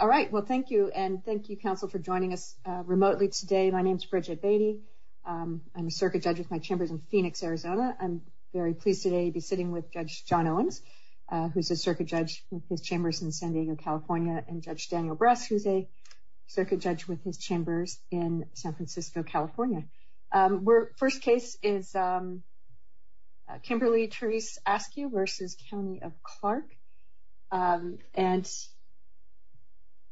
All right. Well, thank you. And thank you, counsel, for joining us remotely today. My name's Bridget Beatty. I'm a circuit judge with my chambers in Phoenix, Arizona. I'm very pleased today to be sitting with Judge John Owens, who's a circuit judge with his chambers in San Diego, California, and Judge Daniel Bress, who's a circuit judge with his chambers in San Francisco, California. First case is Kimberly Therese Askew v. County of Clark. And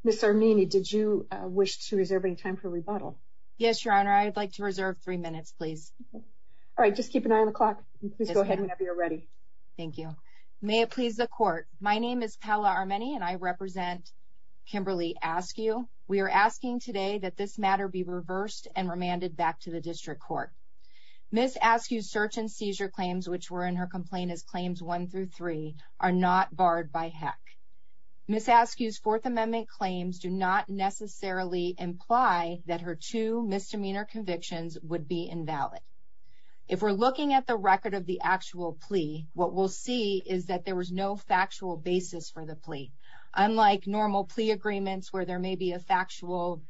Ms. Armini, did you wish to reserve any time for rebuttal? Yes, Your Honor. I'd like to reserve three minutes, please. All right. Just keep an eye on the clock. Please go ahead whenever you're ready. Thank you. May it please the Court. My name is Paola Armini, and I represent the District Court. Ms. Askew's search and seizure claims, which were in her complaint as Claims 1 through 3, are not barred by HEC. Ms. Askew's Fourth Amendment claims do not necessarily imply that her two misdemeanor convictions would be invalid. If we're looking at the record of the actual plea, what we'll see is that there was no factual basis for the plea. Unlike normal plea agreements, where there may be a factual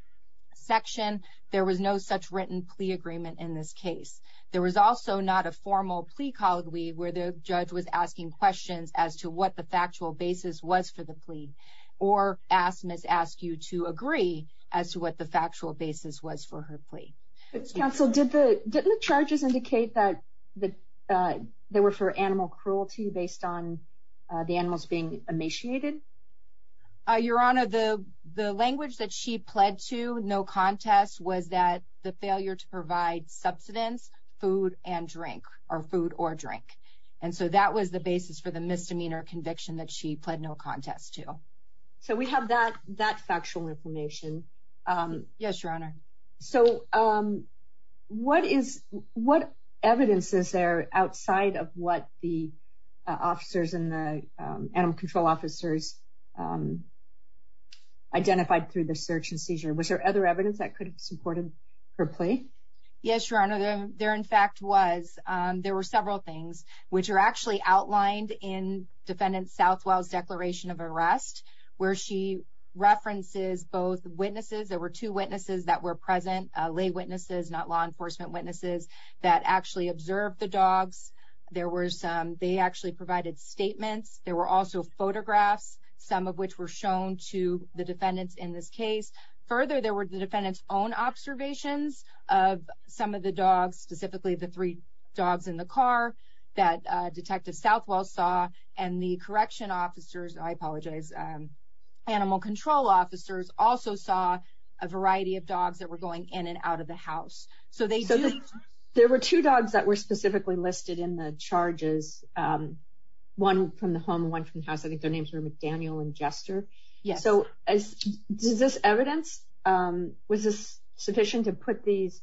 section, there was no such written agreement in this case. There was also not a formal plea where the judge was asking questions as to what the factual basis was for the plea, or Ms. Askew to agree as to what the factual basis was for her plea. Counsel, didn't the charges indicate that they were for animal cruelty based on the animals being emaciated? Your Honor, the language that she pled to, no contest, was that the failure to provide subsidence, food and drink, or food or drink. And so that was the basis for the misdemeanor conviction that she pled no contest to. So we have that factual information. Yes, Your Honor. So what evidence is there outside of what the officers and the animal control officers identified through the search and seizure? Was there other evidence that could have supported her plea? Yes, Your Honor. There in fact was. There were several things, which are actually outlined in Defendant Southwell's declaration of arrest, where she references both witnesses. There were two witnesses that were present, lay witnesses, not law enforcement witnesses, that actually observed the dogs. They actually provided statements. There were also photographs, some of which were shown to the defendants in this case. Further, there were the defendants' own observations of some of the dogs, specifically the three dogs in the car that Detective Southwell saw, and the correction officers, I apologize, animal control officers also saw a variety of in the charges, one from the home, one from the house. I think their names were McDaniel and Jester. So is this evidence, was this sufficient to put these,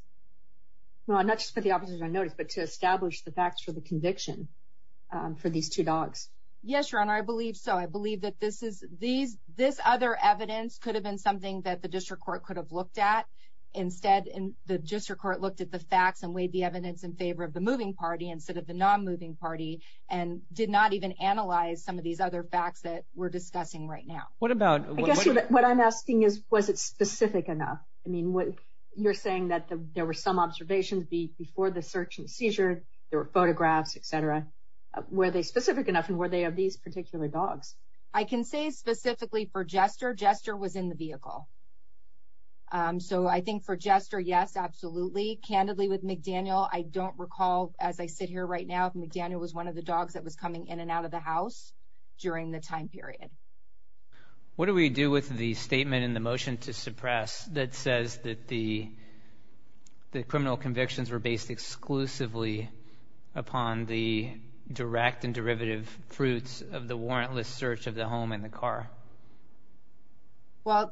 not just put the officers on notice, but to establish the facts for the conviction for these two dogs? Yes, Your Honor, I believe so. I believe that this other evidence could have been something that the district court could have looked at. Instead, the district court looked at the facts and weighed the evidence in favor of the moving party instead of the non-moving party, and did not even analyze some of these other facts that we're discussing right now. What about... I guess what I'm asking is, was it specific enough? I mean, you're saying that there were some observations before the search and seizure, there were photographs, etc. Were they specific enough, and were they of these particular dogs? I can say specifically for Jester, Jester was in the vehicle. So I think for Jester, yes, absolutely. Candidly, with McDaniel, I don't recall, as I sit here right now, if McDaniel was one of the dogs that was coming in and out of the house during the time period. What do we do with the statement in the motion to suppress that says that the criminal convictions were based exclusively upon the direct and derivative fruits of the warrantless search of the home and the car? Well,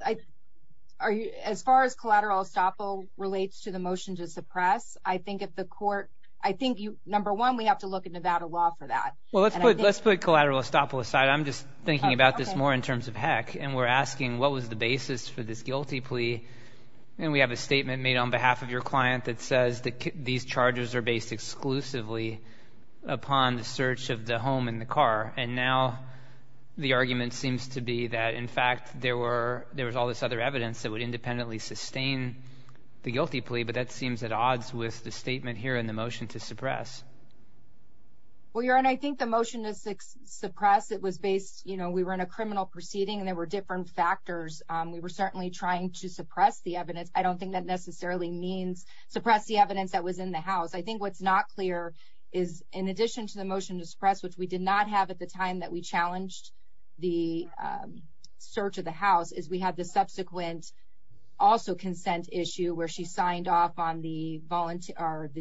as far as collateral estoppel relates to the motion to suppress, I think if the court... I think, number one, we have to look at Nevada law for that. Well, let's put collateral estoppel aside. I'm just thinking about this more in terms of heck, and we're asking what was the basis for this guilty plea? And we have a statement made on behalf of your client that says that these charges are based exclusively upon the search of the home and the car. And now the argument seems to be that, in fact, there was all this other evidence that would independently sustain the guilty plea, but that seems at odds with the statement here in the motion to suppress. Well, Your Honor, I think the motion to suppress, it was based... We were in a criminal proceeding and there were different factors. We were certainly trying to suppress the evidence. I don't think that necessarily means suppress the evidence that was in the house. I think what's not clear is, in addition to the motion to suppress, which we did not have at the time that we challenged the search of the house, is we had the subsequent also consent issue where she signed off on the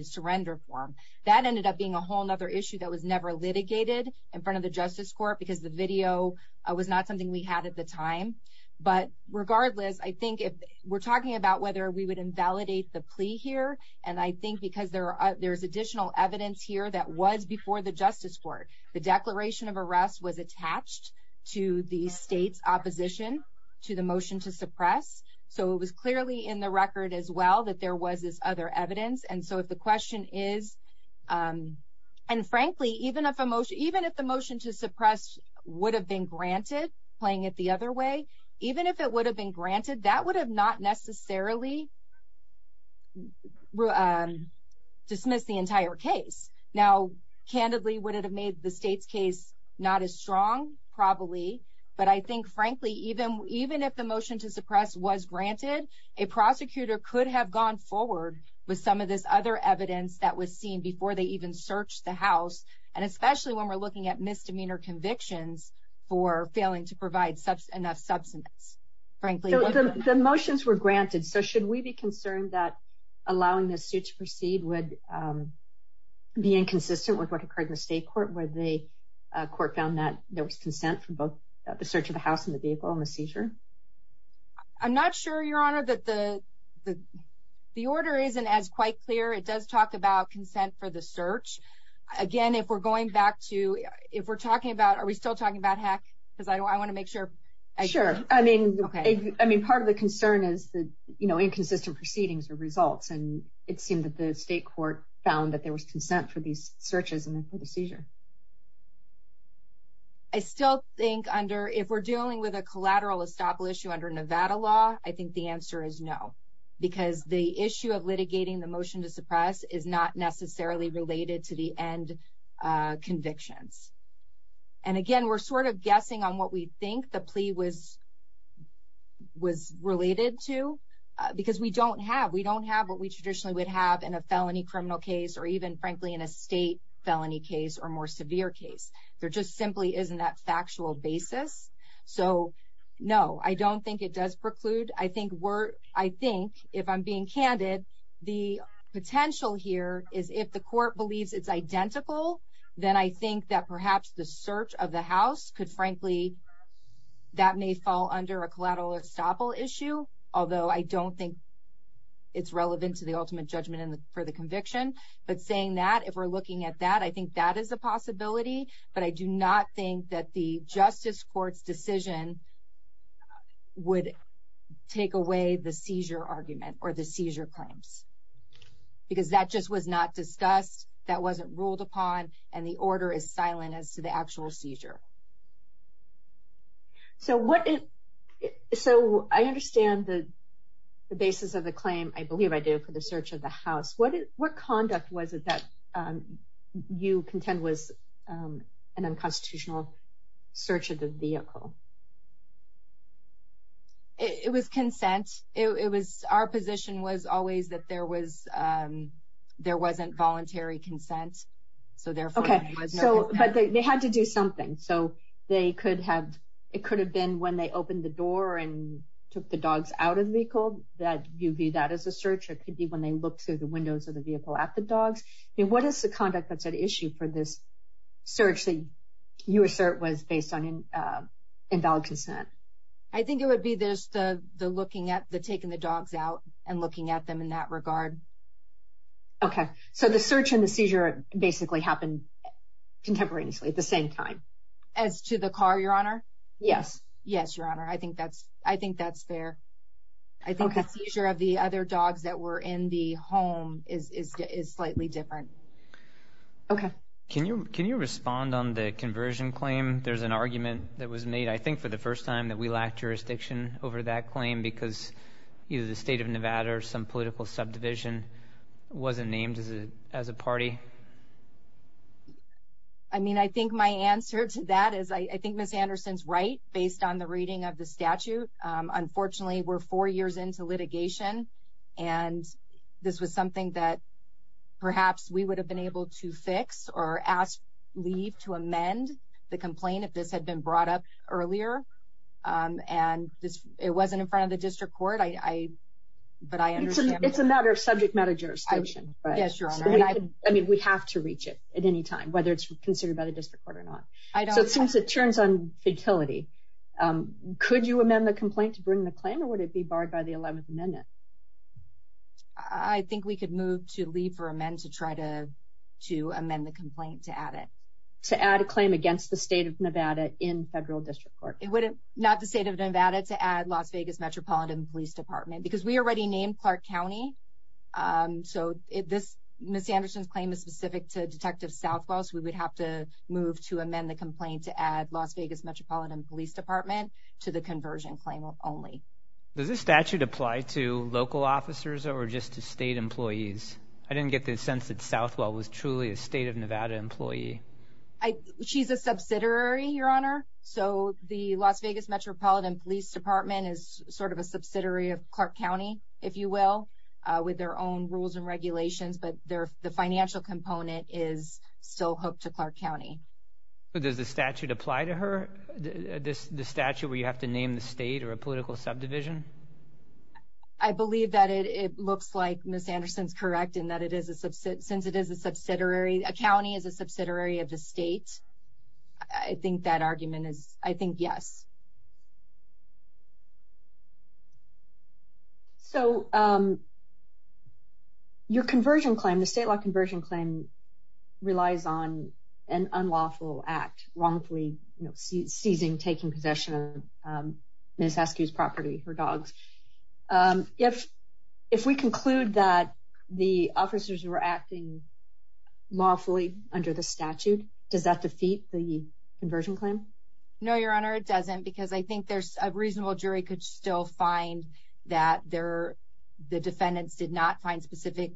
surrender form. That ended up being a whole other issue that was never litigated in front of the Justice Court because the video was not something we had at the time. But regardless, I think if we're talking about whether we would invalidate the plea here, and I think because there's additional evidence here that was before the Justice Court, the declaration of arrest was attached to the state's opposition to the motion to suppress. So it was clearly in the record as well that there was this other evidence. And so if the question is... And frankly, even if the motion to suppress would have been granted, playing it the other way, even if it would have been granted, that would have not necessarily dismissed the entire case. Now, candidly, would it have made the state's case not as strong? Probably. But I think, frankly, even if the motion to suppress was granted, a prosecutor could have gone forward with some of this other evidence that was seen before they even searched the house. And especially when we're looking at misdemeanor convictions for failing to provide enough substance, frankly. The motions were granted. So should we be concerned that allowing this suit to proceed would be inconsistent with what occurred in the state court where the court found that there was consent for both the search of the house and the vehicle and the seizure? I'm not sure, Your Honor, that the order isn't as quite clear. It does talk about consent for the search. Again, if we're going back to... If we're talking about... Are we still sure? Sure. I mean, part of the concern is that inconsistent proceedings are results, and it seemed that the state court found that there was consent for these searches and for the seizure. I still think under... If we're dealing with a collateral estoppel issue under Nevada law, I think the answer is no. Because the issue of litigating the motion to suppress is not necessarily related to the end convictions. And again, we're sort of guessing on what we think the plea was related to. Because we don't have... We don't have what we traditionally would have in a felony criminal case or even, frankly, in a state felony case or more severe case. There just simply isn't that factual basis. So no, I don't think it does preclude. I think we're... I think, if I'm being candid, the potential here is if the court believes it's identical, then I think that perhaps the search of the house could, frankly... That may fall under a collateral estoppel issue, although I don't think it's relevant to the ultimate judgment for the conviction. But saying that, if we're looking at that, I think that is a possibility. But I do not think that the justice court's decision would take away the seizure argument or the seizure claims. Because that just was not discussed, that wasn't ruled upon, and the order is silent as to the actual seizure. So what... So I understand the basis of the claim, I believe I do, for the search of the house. What conduct was it that you contend was an unconstitutional search of the vehicle? It was consent. It was... Our position was always that there wasn't voluntary consent, so therefore... Okay, so... But they had to do something. So they could have... It could have been when they opened the door and took the dogs out of the vehicle that you view that as a search, or it could be when they looked through the windows of the vehicle at the dogs. I mean, what is the conduct that's at issue for this search that you assert was based on invalid consent? I think it would be just the looking at the taking the dogs out and looking at them in that regard. Okay. So the search and the seizure basically happened contemporaneously at the same time. As to the car, Your Honor? Yes. Yes, Your Honor. I think that's fair. Okay. I think the seizure of the other dogs that were in the home is slightly different. Okay. Can you respond on the conversion claim? There's an argument that was made, I think, for the first time that we lacked jurisdiction over that claim because either the State of Nevada or some political subdivision wasn't named as a party. I mean, I think my answer to that is I think Ms. Anderson's right, based on the reading of the statute. Unfortunately, we're four years into litigation, and this was something that perhaps we would have been able to fix or ask, leave to amend the complaint if this had been brought up earlier. And it wasn't in front of the district court, but I understand. It's a matter of subject matter jurisdiction, right? Yes, Your Honor. I mean, we have to reach it at any time, whether it's considered by the district court or not. So since it turns on fatality, could you amend the complaint to bring the claim, or would it be barred by the 11th Amendment? I think we could move to leave for amend to try to amend the complaint to add it. To add a claim against the State of Nevada in federal district court. It wouldn't, not the State of Nevada, to add Las Vegas Metropolitan Police Department, because we already named Clark County. So Ms. Anderson's claim is specific to Detective Southwell, so we would have to move to amend the complaint to add Las Vegas Metropolitan Police Department to the conversion claim only. Does this statute apply to local officers or just to state employees? I didn't get the sense that Southwell was truly a State of Nevada employee. She's a subsidiary, Your Honor. So the Las Vegas Metropolitan Police Department is sort of a subsidiary of Clark County, if you will, with their own rules and regulations. But the financial component is still hooked to Clark County. But does the statute apply to her? The statute where you have to name the state or a political subdivision? I believe that it looks like Ms. Anderson's correct in that it is a, since it is a subsidiary, a county is a subsidiary of the state. I think that argument is, I think, yes. So your conversion claim, the state law conversion claim, relies on an unlawful act, wrongfully seizing, taking possession of Ms. Askew's property, her dogs. If we conclude that the officers were acting lawfully under the statute, does that defeat the conversion claim? No, Your Honor, it doesn't, because I think a reasonable jury could still find that the defendants did not find specific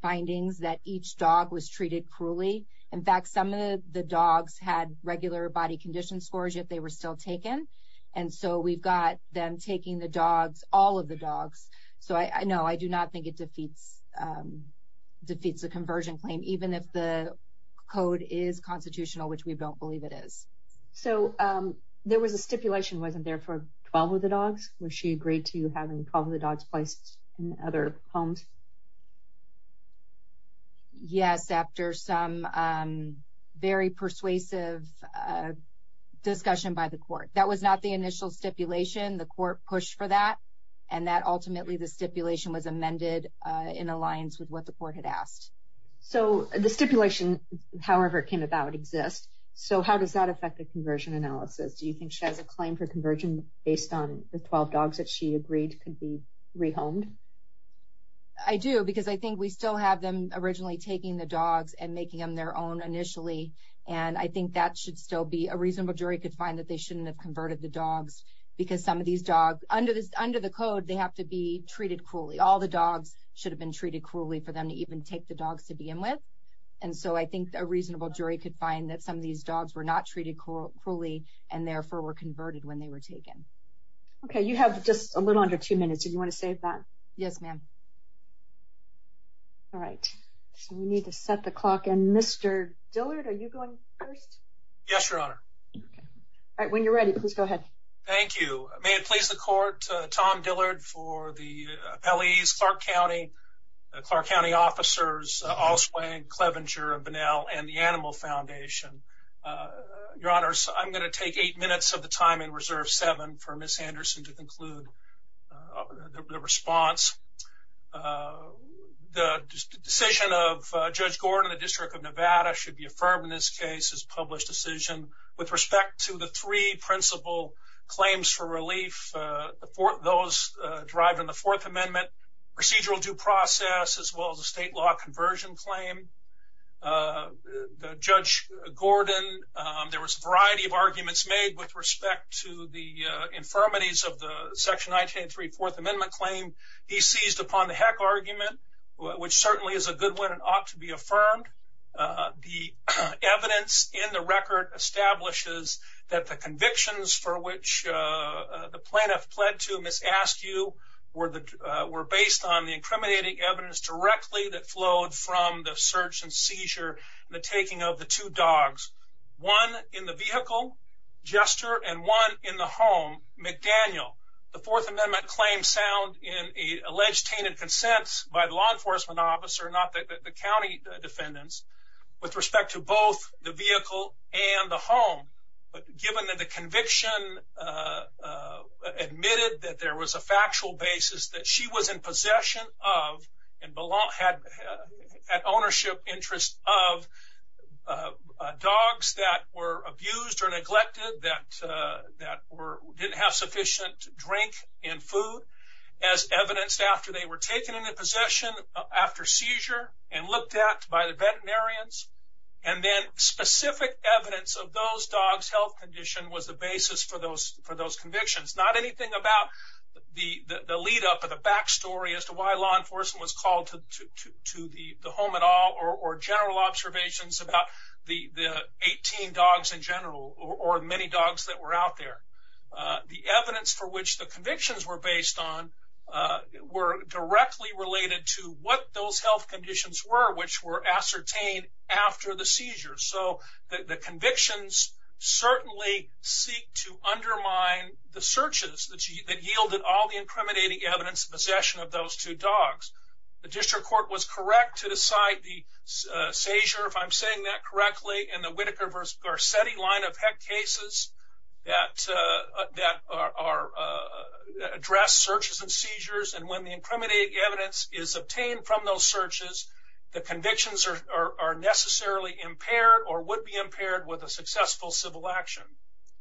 findings that each dog was treated cruelly. In fact, some of the dogs had regular body condition scores, yet they were still taken. And so we've got them taking the dogs, all of the dogs. So no, I do not think it defeats the conversion claim, even if the code is constitutional, which we don't believe it is. So there was a stipulation, wasn't there, for 12 of the dogs? Was she agreed to having 12 of the dogs placed in other homes? Yes, after some very persuasive discussion by the court. That was not the initial stipulation. The court pushed for that, and that ultimately, the stipulation was amended in alliance with what the court had asked. So the stipulation, however it came about, exists. So how does that affect the conversion analysis? Do you think she has a claim for conversion based on the 12 dogs that she agreed could be rehomed? I do, because I think we still have them originally taking the dogs and making them their own initially. And I think that should still be, a reasonable jury could find that they shouldn't have converted the dogs. Because some of these dogs, under the code, they have to be treated cruelly. All the dogs should have been treated cruelly for them to even take the dogs to begin with. And so I think a reasonable jury could find that some of these dogs were not treated cruelly and therefore were converted when they were taken. Okay, you have just a little under two minutes. Do you want to save that? Yes, ma'am. All right, so we need to set the clock. And Mr. Dillard, are you going first? Yes, Your Honor. All right, when you're ready, please go ahead. Thank you. May it please the court, Tom Dillard for the appellees, Clark County, Clark County officers, Allsway, Clevenger, Bunnell, and the Animal Foundation. Your Honors, I'm going to take eight minutes of the time and reserve seven for Ms. Anderson to conclude the response. The decision of Judge Gordon, the District of Nevada, should be affirmed in this case as published decision. With respect to the three principal claims for relief, those derived in the Fourth Amendment, procedural due process, as well as a state law conversion claim, the Judge Gordon, there was a variety of arguments made with respect to the infirmities of the Section 1903 Fourth Amendment claim. He seized upon the Heck argument, which certainly is a good one and ought to be affirmed. The evidence in the record establishes that the convictions for which the plaintiff pled to Ms. Askew were based on the incriminating evidence directly that flowed from the search and seizure and the taking of the two dogs, one in the vehicle, Jester, and one in the home, McDaniel. The Fourth Amendment claims sound in an alleged tainted consent by the law enforcement officer, not the county defendants, with respect to both the vehicle and the home. But given that the conviction admitted that there was a factual basis that she was in possession of and had ownership interest of dogs that were abused or neglected, that didn't have sufficient drink and food, as evidenced after they were taken into possession after seizure and looked at by the veterinarians, and then specific evidence of those dogs' health condition was the basis for those convictions. Not anything about the lead up or the backstory as to why law enforcement was called to the home at all or general observations about the 18 dogs in general or many dogs that were out there. The evidence for which the convictions were based on were directly related to what those health conditions were, which were ascertained after the seizure. So the convictions certainly seek to undermine the searches that yielded all the incriminating evidence in possession of those two dogs. The district court was correct to decide the seizure, if I'm saying that correctly, in the Whitaker v. Garcetti line of heck cases that address searches and seizures. And when the incriminating evidence is obtained from those searches, the convictions are necessarily impaired or would be impaired with a successful civil action.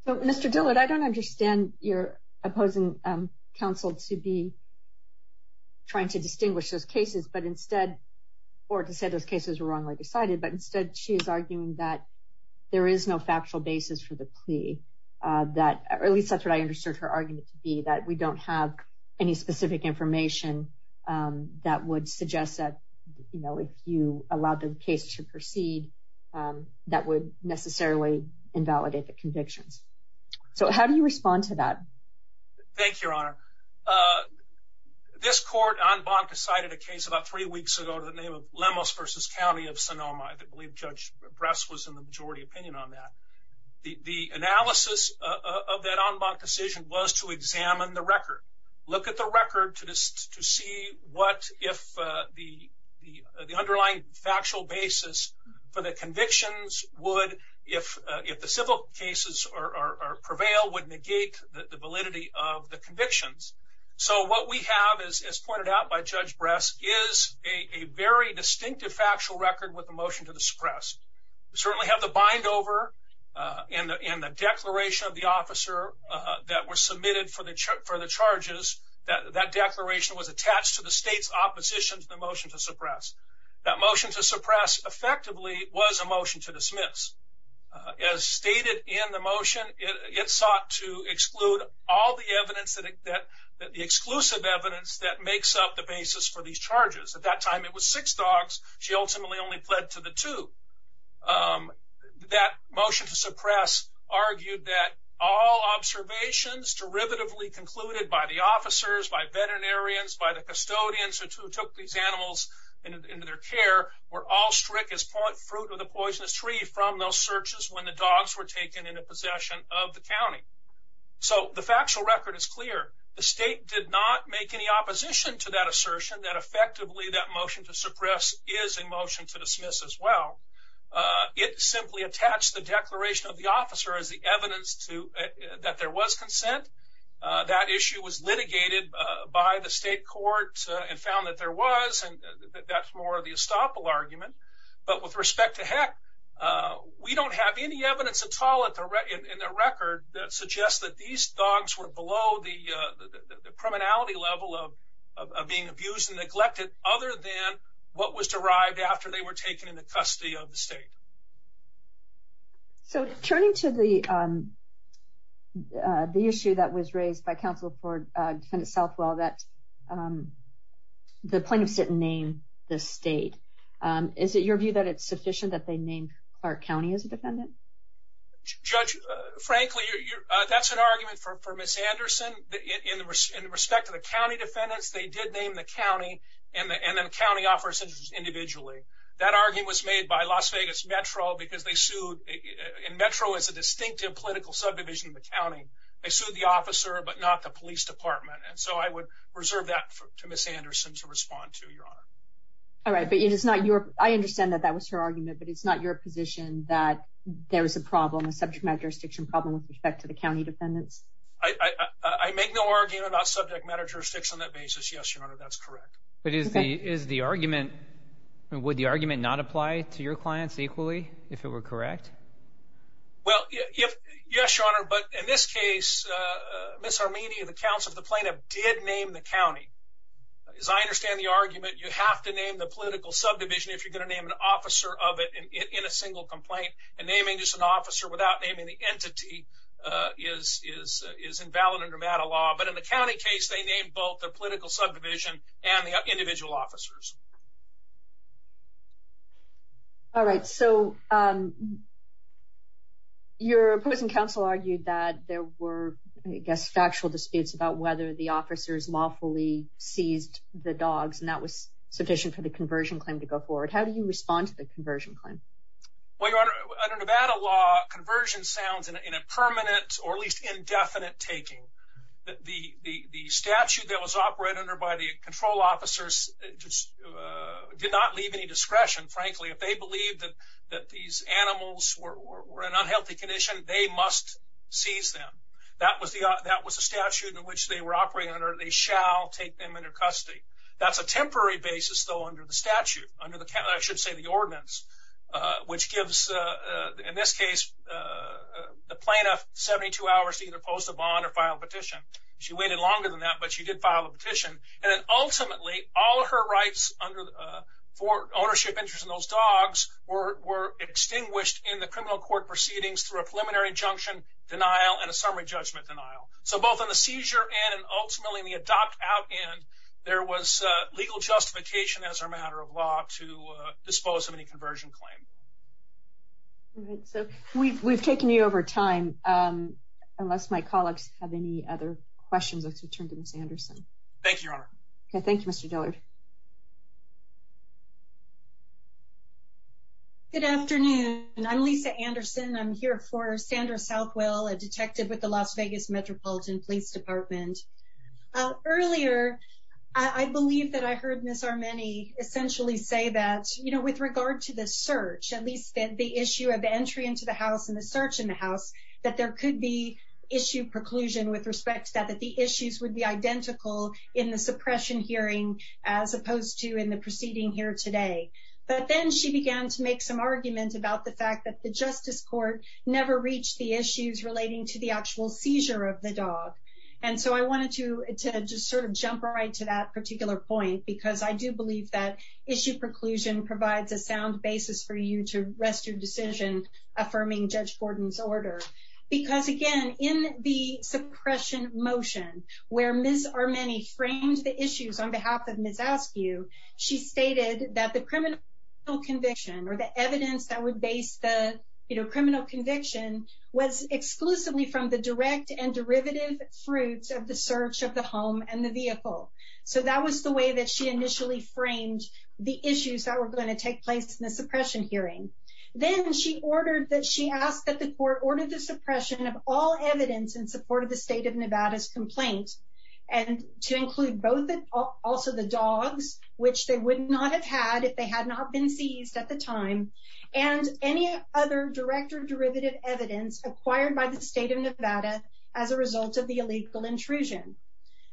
So, Mr. Dillard, I don't understand your opposing counsel to be trying to distinguish those cases, but instead, or to say those cases were wrongly decided, but instead she's arguing that there is no factual basis for the plea. That, or at least that's what I understood her argument to be, that we don't have any specific information that would suggest that, you know, if you allowed the case to proceed, that would necessarily invalidate the convictions. So how do you respond to that? Thank you, Your Honor. This court en banc decided a case about three weeks ago to the name of Lemos v. County of Sonoma. I believe Judge Bress was in the majority opinion on that. The analysis of that en banc decision was to examine the record, look at the record to see what, if the underlying factual basis for the convictions would, if the civil cases prevail, would negate the validity of the convictions. So what we have, as pointed out by Judge Bress, is a very distinctive factual record with the motion to the suppress. We certainly have the bind over and the declaration of the officer that was submitted for the charges, that declaration was attached to the state's opposition to the motion to suppress. That motion to suppress effectively was a motion to dismiss. As stated in the motion, it sought to exclude all the evidence that, the exclusive evidence that makes up the basis for these charges. At that time, it was six dogs. She ultimately only pled to the two. Um, that motion to suppress argued that all observations derivatively concluded by the officers, by veterinarians, by the custodians, who took these animals into their care, were all strict as point fruit of the poisonous tree from those searches when the dogs were taken into possession of the county. So the factual record is clear. The state did not make any opposition to that assertion that effectively that motion to suppress is a motion to dismiss as well. It simply attached the declaration of the officer as the evidence that there was consent. That issue was litigated by the state court and found that there was, and that's more of the estoppel argument. But with respect to Heck, we don't have any evidence at all in the record that suggests that these dogs were below the criminality level of being abused and neglected other than what was derived after they were taken into custody of the state. So turning to the issue that was raised by counsel for defendant Southwell, that the plaintiffs didn't name the state. Is it your view that it's sufficient that they named Clark County as a defendant? Judge, frankly, that's an argument for Ms. Anderson. In respect to the county defendants, they did name the county and then county officers individually. That argument was made by Las Vegas Metro because they sued, and Metro is a distinctive political subdivision of the county. They sued the officer, but not the police department. And so I would reserve that to Ms. Anderson to respond to, Your Honor. All right, but it is not your, I understand that that was her argument, but it's not your position that there was a problem, a subject matter jurisdiction problem with respect to the county defendants? I make no argument about subject matter jurisdictions on that basis. Yes, Your Honor, that's correct. Is the argument, would the argument not apply to your clients equally if it were correct? Well, yes, Your Honor, but in this case, Ms. Arminian, the counsel of the plaintiff, did name the county. As I understand the argument, you have to name the political subdivision if you're gonna name an officer of it in a single complaint. And naming just an officer without naming the entity is invalid under MATA law. But in the county case, they named both the political subdivision and the individual officers. All right, so your opposing counsel argued that there were, I guess, factual disputes about whether the officers lawfully seized the dogs and that was sufficient for the conversion claim to go forward. How do you respond to the conversion claim? Well, Your Honor, under Nevada law, conversion sounds in a permanent or at least indefinite taking. The statute that was operated under by the control officers did not leave any discretion, frankly. If they believed that these animals were in unhealthy condition, they must seize them. That was the statute in which they were operating under. They shall take them into custody. That's a temporary basis, though, under the statute, under the, I should say, the ordinance, which gives, in this case, the plaintiff 72 hours to either post a bond or file a petition. She waited longer than that, but she did file a petition. And then ultimately, all her rights under ownership interest in those dogs were extinguished in the criminal court proceedings through a preliminary injunction denial and a summary judgment denial. So both on the seizure end and ultimately in the adopt out end, there was legal justification as a matter of law to dispose of any conversion claim. All right, so we've taken you over time. Unless my colleagues have any other questions, let's return to Ms. Anderson. Thank you, Your Honor. Okay, thank you, Mr. Dillard. Good afternoon. I'm Lisa Anderson. I'm here for Sandra Southwell, a detective with the Las Vegas Metropolitan Police Department. Earlier, I believe that I heard Ms. Armeni essentially say that, you know, with regard to the search, at least the issue of the entry into the house and the search in the house, that there could be issue preclusion with respect to that, that the issues would be identical in the suppression hearing as opposed to in the proceeding here today. But then she began to make some argument about the fact that the justice court never reached the issues relating to the actual seizure of the dog. And so I wanted to just sort of jump right to that particular point because I do believe that issue preclusion provides a sound basis for you to rest your decision affirming Judge Gordon's order. Because again, in the suppression motion where Ms. Armeni framed the issues on behalf of Ms. Askew, she stated that the criminal conviction or the evidence that would base the criminal conviction was exclusively from the direct and derivative fruits of the search of the home and the vehicle. So that was the way that she initially framed the issues that were going to take place in the suppression hearing. Then she asked that the court order the suppression of all evidence in support of the state of Nevada's complaint and to include both also the dogs, which they would not have had if they had not been seized at the time, and any other direct or derivative evidence acquired by the state of Nevada as a result of the illegal intrusion.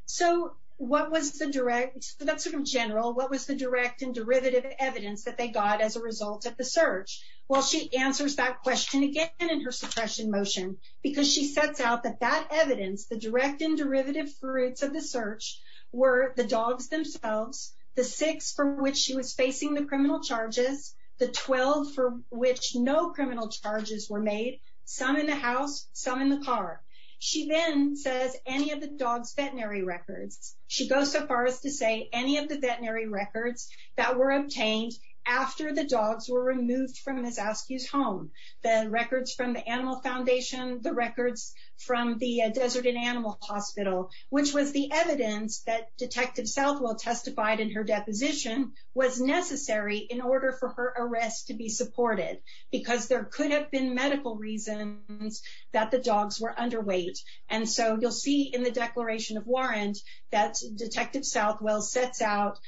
So that's sort of general, what was the direct and derivative evidence that they got as a result of the search? Well, she answers that question again in her suppression motion because she sets out that that evidence, the direct and derivative fruits of the search, were the dogs themselves, the six for which she was facing the criminal charges, the 12 for which no criminal charges were made, some in the house, some in the car. She then says any of the dogs' veterinary records. She goes so far as to say any of the veterinary records that were obtained after the dogs were removed from Ms. Askew's home, the records from the Animal Foundation, the records from the Desert and Animal Hospital, which was the evidence that Detective Southwell testified in her deposition was necessary in order for her arrest to be supported because there could have been medical reasons that the dogs were underweight. And so you'll see in the declaration of warrant that Detective Southwell sets out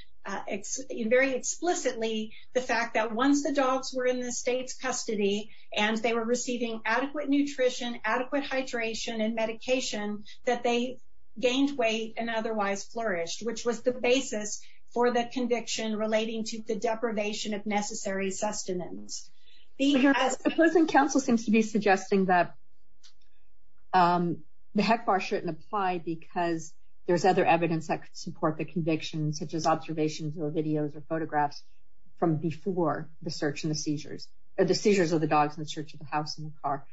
very explicitly the fact that once the dogs were in the state's custody and they were receiving adequate nutrition, adequate hydration and medication, that they gained weight and otherwise flourished, which was the basis for the conviction relating to the deprivation of necessary sustenance. But your opposing counsel seems to be suggesting that the HECBAR shouldn't apply because there's other evidence that could support the conviction, such as observations or videos or photographs from before the search and the seizures, or the seizures of the dogs in the search of the house and the car.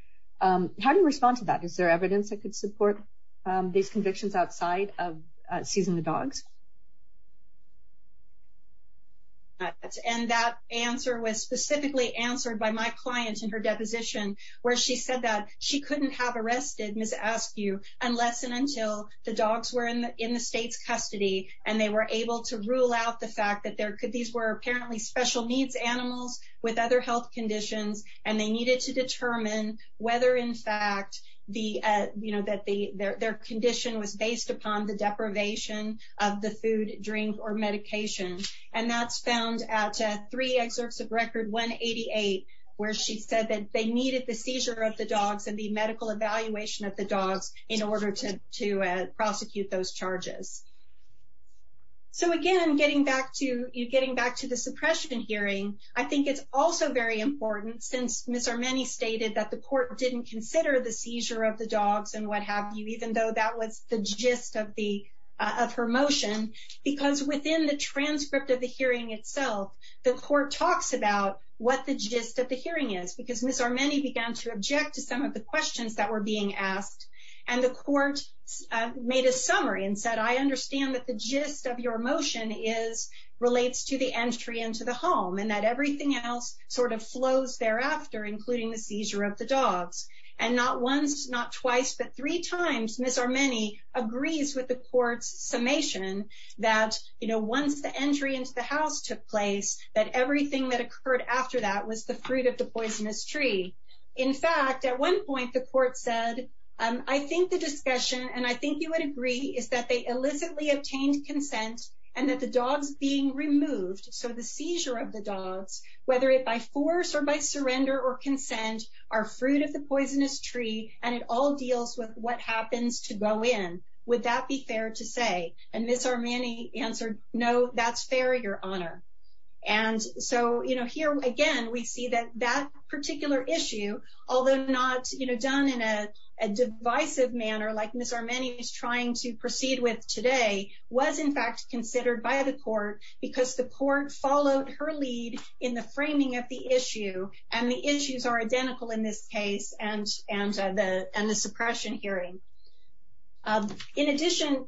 How do you respond to that? Is there evidence that could support these convictions outside of seizing the dogs? And that answer was specifically answered by my client in her deposition where she said that she couldn't have arrested Ms. Askew unless and until the dogs were in the state's custody and they were able to rule out the fact that these were apparently special needs animals with other health conditions and they needed to determine whether in fact their condition was based upon the deprivation of the food, drink or medication. And that's found at three excerpts of record 188 where she said that they needed the seizure of the dogs and the medical evaluation of the dogs in order to prosecute those charges. So again, getting back to the suppression hearing, I think it's also very important since Ms. Armeni stated that the court didn't consider the seizure of the dogs and what have you, even though that was the gist of her motion because within the transcript of the hearing itself, the court talks about what the gist of the hearing is because Ms. Armeni began to object to some of the questions that were being asked and the court made a summary and said, I understand that the gist of your motion relates to the entry into the home and that everything else sort of flows thereafter, including the seizure of the dogs. And not once, not twice, but three times, Ms. Armeni agrees with the court's summation that once the entry into the house took place, that everything that occurred after that was the fruit of the poisonous tree. In fact, at one point the court said, I think the discussion, and I think you would agree, is that they illicitly obtained consent and that the dogs being removed, so the seizure of the dogs, whether it by force or by surrender or consent, are fruit of the poisonous tree and it all deals with what happens to go in. Would that be fair to say? And Ms. Armeni answered, no, that's fair, your honor. And so here again, we see that that particular issue, although not done in a divisive manner like Ms. Armeni is trying to proceed with today, was in fact considered by the court because the court followed her lead in the framing of the issue and the issues are identical in this case and the suppression hearing. In addition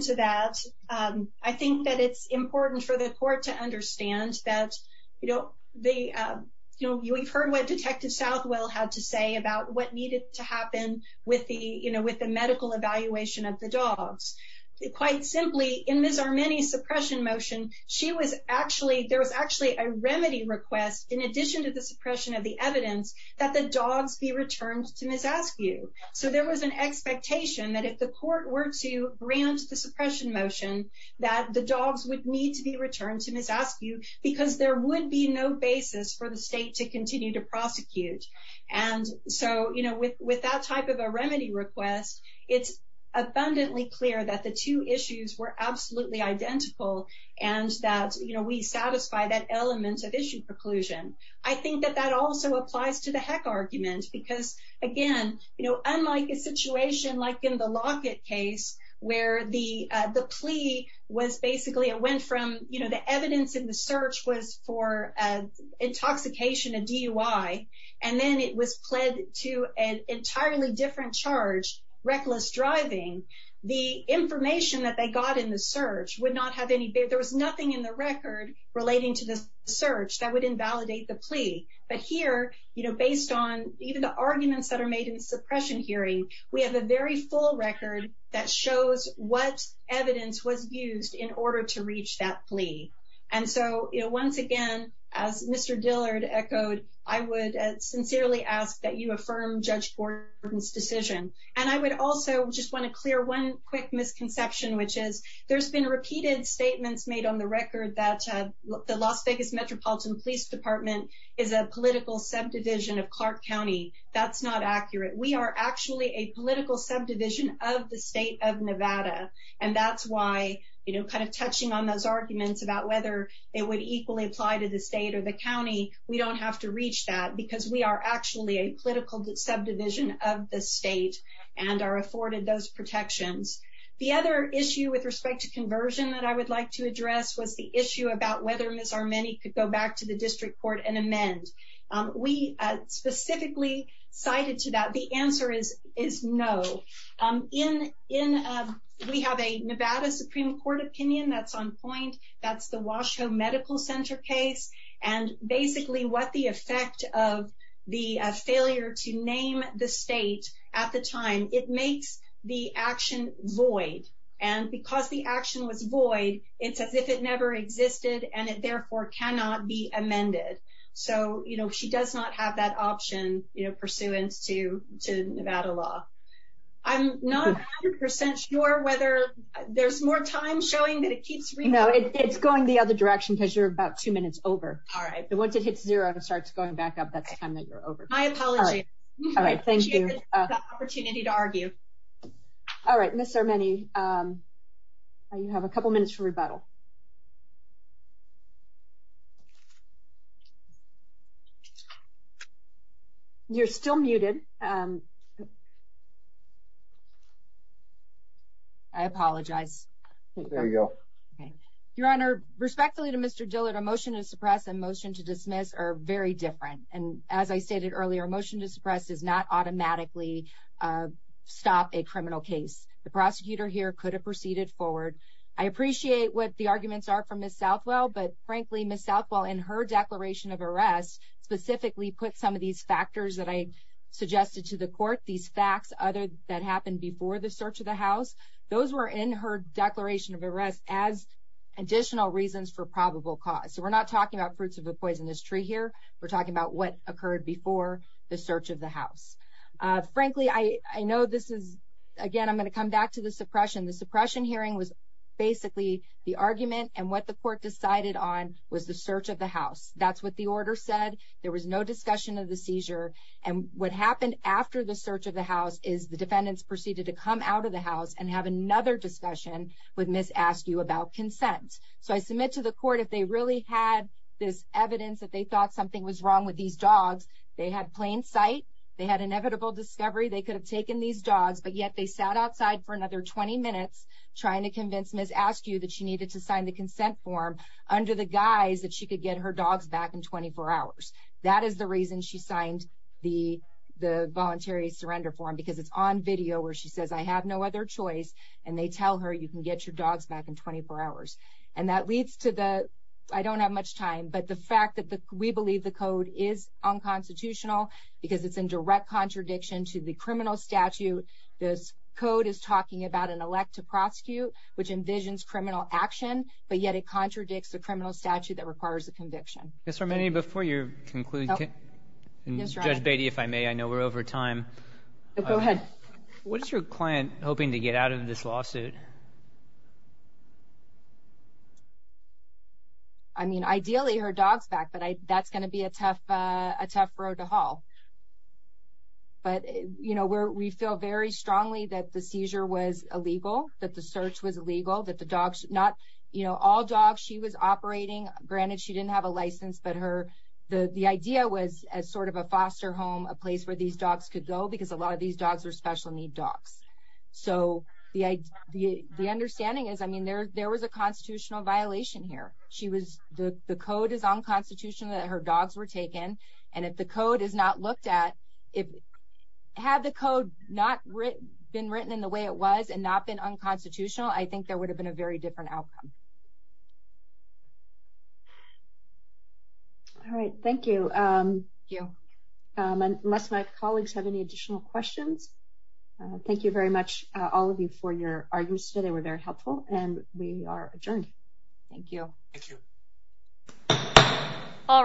to that, I think that it's important for the court to understand that we've heard what Detective Southwell had to say about what needed to happen with the medical evaluation of the dogs. Quite simply, in Ms. Armeni's suppression motion, there was actually a remedy request in addition to the suppression of the evidence that the dogs be returned to Miss Askew. So there was an expectation that if the court were to grant the suppression motion that the dogs would need to be returned to Miss Askew because there would be no basis for the state to continue to prosecute. And so with that type of a remedy request, it's abundantly clear that the two issues were absolutely identical and that we satisfy that element of issue preclusion. I think that that also applies to the Heck argument because again, unlike a situation like in the Lockett case where the plea was basically, the evidence in the search was for intoxication, a DUI, and then it was pled to an entirely different charge, reckless driving. The information that they got in the search would not have any, there was nothing in the record relating to the search that would invalidate the plea. But here, based on even the arguments that are made in the suppression hearing, we have a very full record that shows what evidence was used in order to reach that plea. And so once again, as Mr. Dillard echoed, I would sincerely ask that you affirm Judge Gordon's decision. And I would also just wanna clear one quick misconception, which is there's been repeated statements made on the record that the Las Vegas Metropolitan Police Department is a political subdivision of Clark County. That's not accurate. We are actually a political subdivision of the state of Nevada. And that's why, you know, kind of touching on those arguments about whether it would equally apply to the state or the county, we don't have to reach that because we are actually a political subdivision of the state and are afforded those protections. The other issue with respect to conversion that I would like to address was the issue about whether Ms. Armeni could go back to the district court and amend. We specifically cited to that. The answer is no. In, we have a Nevada Supreme Court opinion that's on point. That's the Washoe Medical Center case. And basically what the effect of the failure to name the state at the time, it makes the action void. And because the action was void, it's as if it never existed and it therefore cannot be amended. So, you know, she does not have that option, you know, pursuant to Nevada law. I'm not a hundred percent sure whether there's more time showing that it keeps... No, it's going the other direction because you're about two minutes over. All right. But once it hits zero and it starts going back up, that's the time that you're over. My apology. All right. Thank you. I appreciate the opportunity to argue. All right. Ms. Armeni, you have a couple minutes for rebuttal. You're still muted. I apologize. There you go. Okay. Your Honor, respectfully to Mr. Dillard, a motion to suppress and motion to dismiss are very different. And as I stated earlier, a motion to suppress does not automatically stop a criminal case. The prosecutor here could have proceeded forward. I appreciate what the arguments are from Ms. Southwell, but frankly, Ms. Southwell, in her declaration of arrest, specifically put some of these factors that I suggested to the court, these facts that happened before the search of the house, those were in her declaration of arrest as additional reasons for probable cause. So we're not talking about fruits of a poisonous tree here. We're talking about what occurred before the search of the house. Frankly, I know this is, again, I'm going to come back to the suppression. The suppression hearing was basically the argument and what the court decided on was the search of the house. That's what the order said. There was no discussion of the seizure. And what happened after the search of the house is the defendants proceeded to come out of the house and have another discussion with Ms. Askew about consent. So I submit to the court, if they really had this evidence that they thought something was wrong with these dogs, they had plain sight, they had inevitable discovery, they could have taken these dogs, but yet they sat outside for another 20 minutes trying to convince Ms. Askew that she needed to sign the consent form under the guise that she could get her dogs back in 24 hours. That is the reason she signed the voluntary surrender form because it's on video where she says, I have no other choice, and they tell her, you can get your dogs back in 24 hours. And that leads to the, I don't have much time, but the fact that we believe the code is unconstitutional because it's in direct contradiction to the criminal statute. This code is talking about an elect to prosecute, which envisions criminal action, but yet it contradicts the criminal statute that requires a conviction. Ms. Armeni, before you conclude, and Judge Beatty, if I may, I know we're over time. Go ahead. What is your client hoping to get out of this lawsuit? I mean, ideally her dog's back, but that's going to be a tough road to haul. But, you know, we feel very strongly that the seizure was illegal, that the search was illegal, that the dogs, not, you know, all dogs she was operating, granted she didn't have a license, but the idea was as sort of a foster home, a place where these dogs could go, because a lot of these dogs were special need dogs. So the understanding is, I mean, there was a constitutional violation here. She was, the code is unconstitutional that her dogs were taken. And if the code is not looked at, had the code not been written in the way it was and not been unconstitutional, I think there would have been a very different outcome. All right. Thank you. Thank you. Unless my colleagues have any additional questions, thank you very much, all of you for your arguments today were very helpful and we are adjourned. Thank you. Thank you. All rise.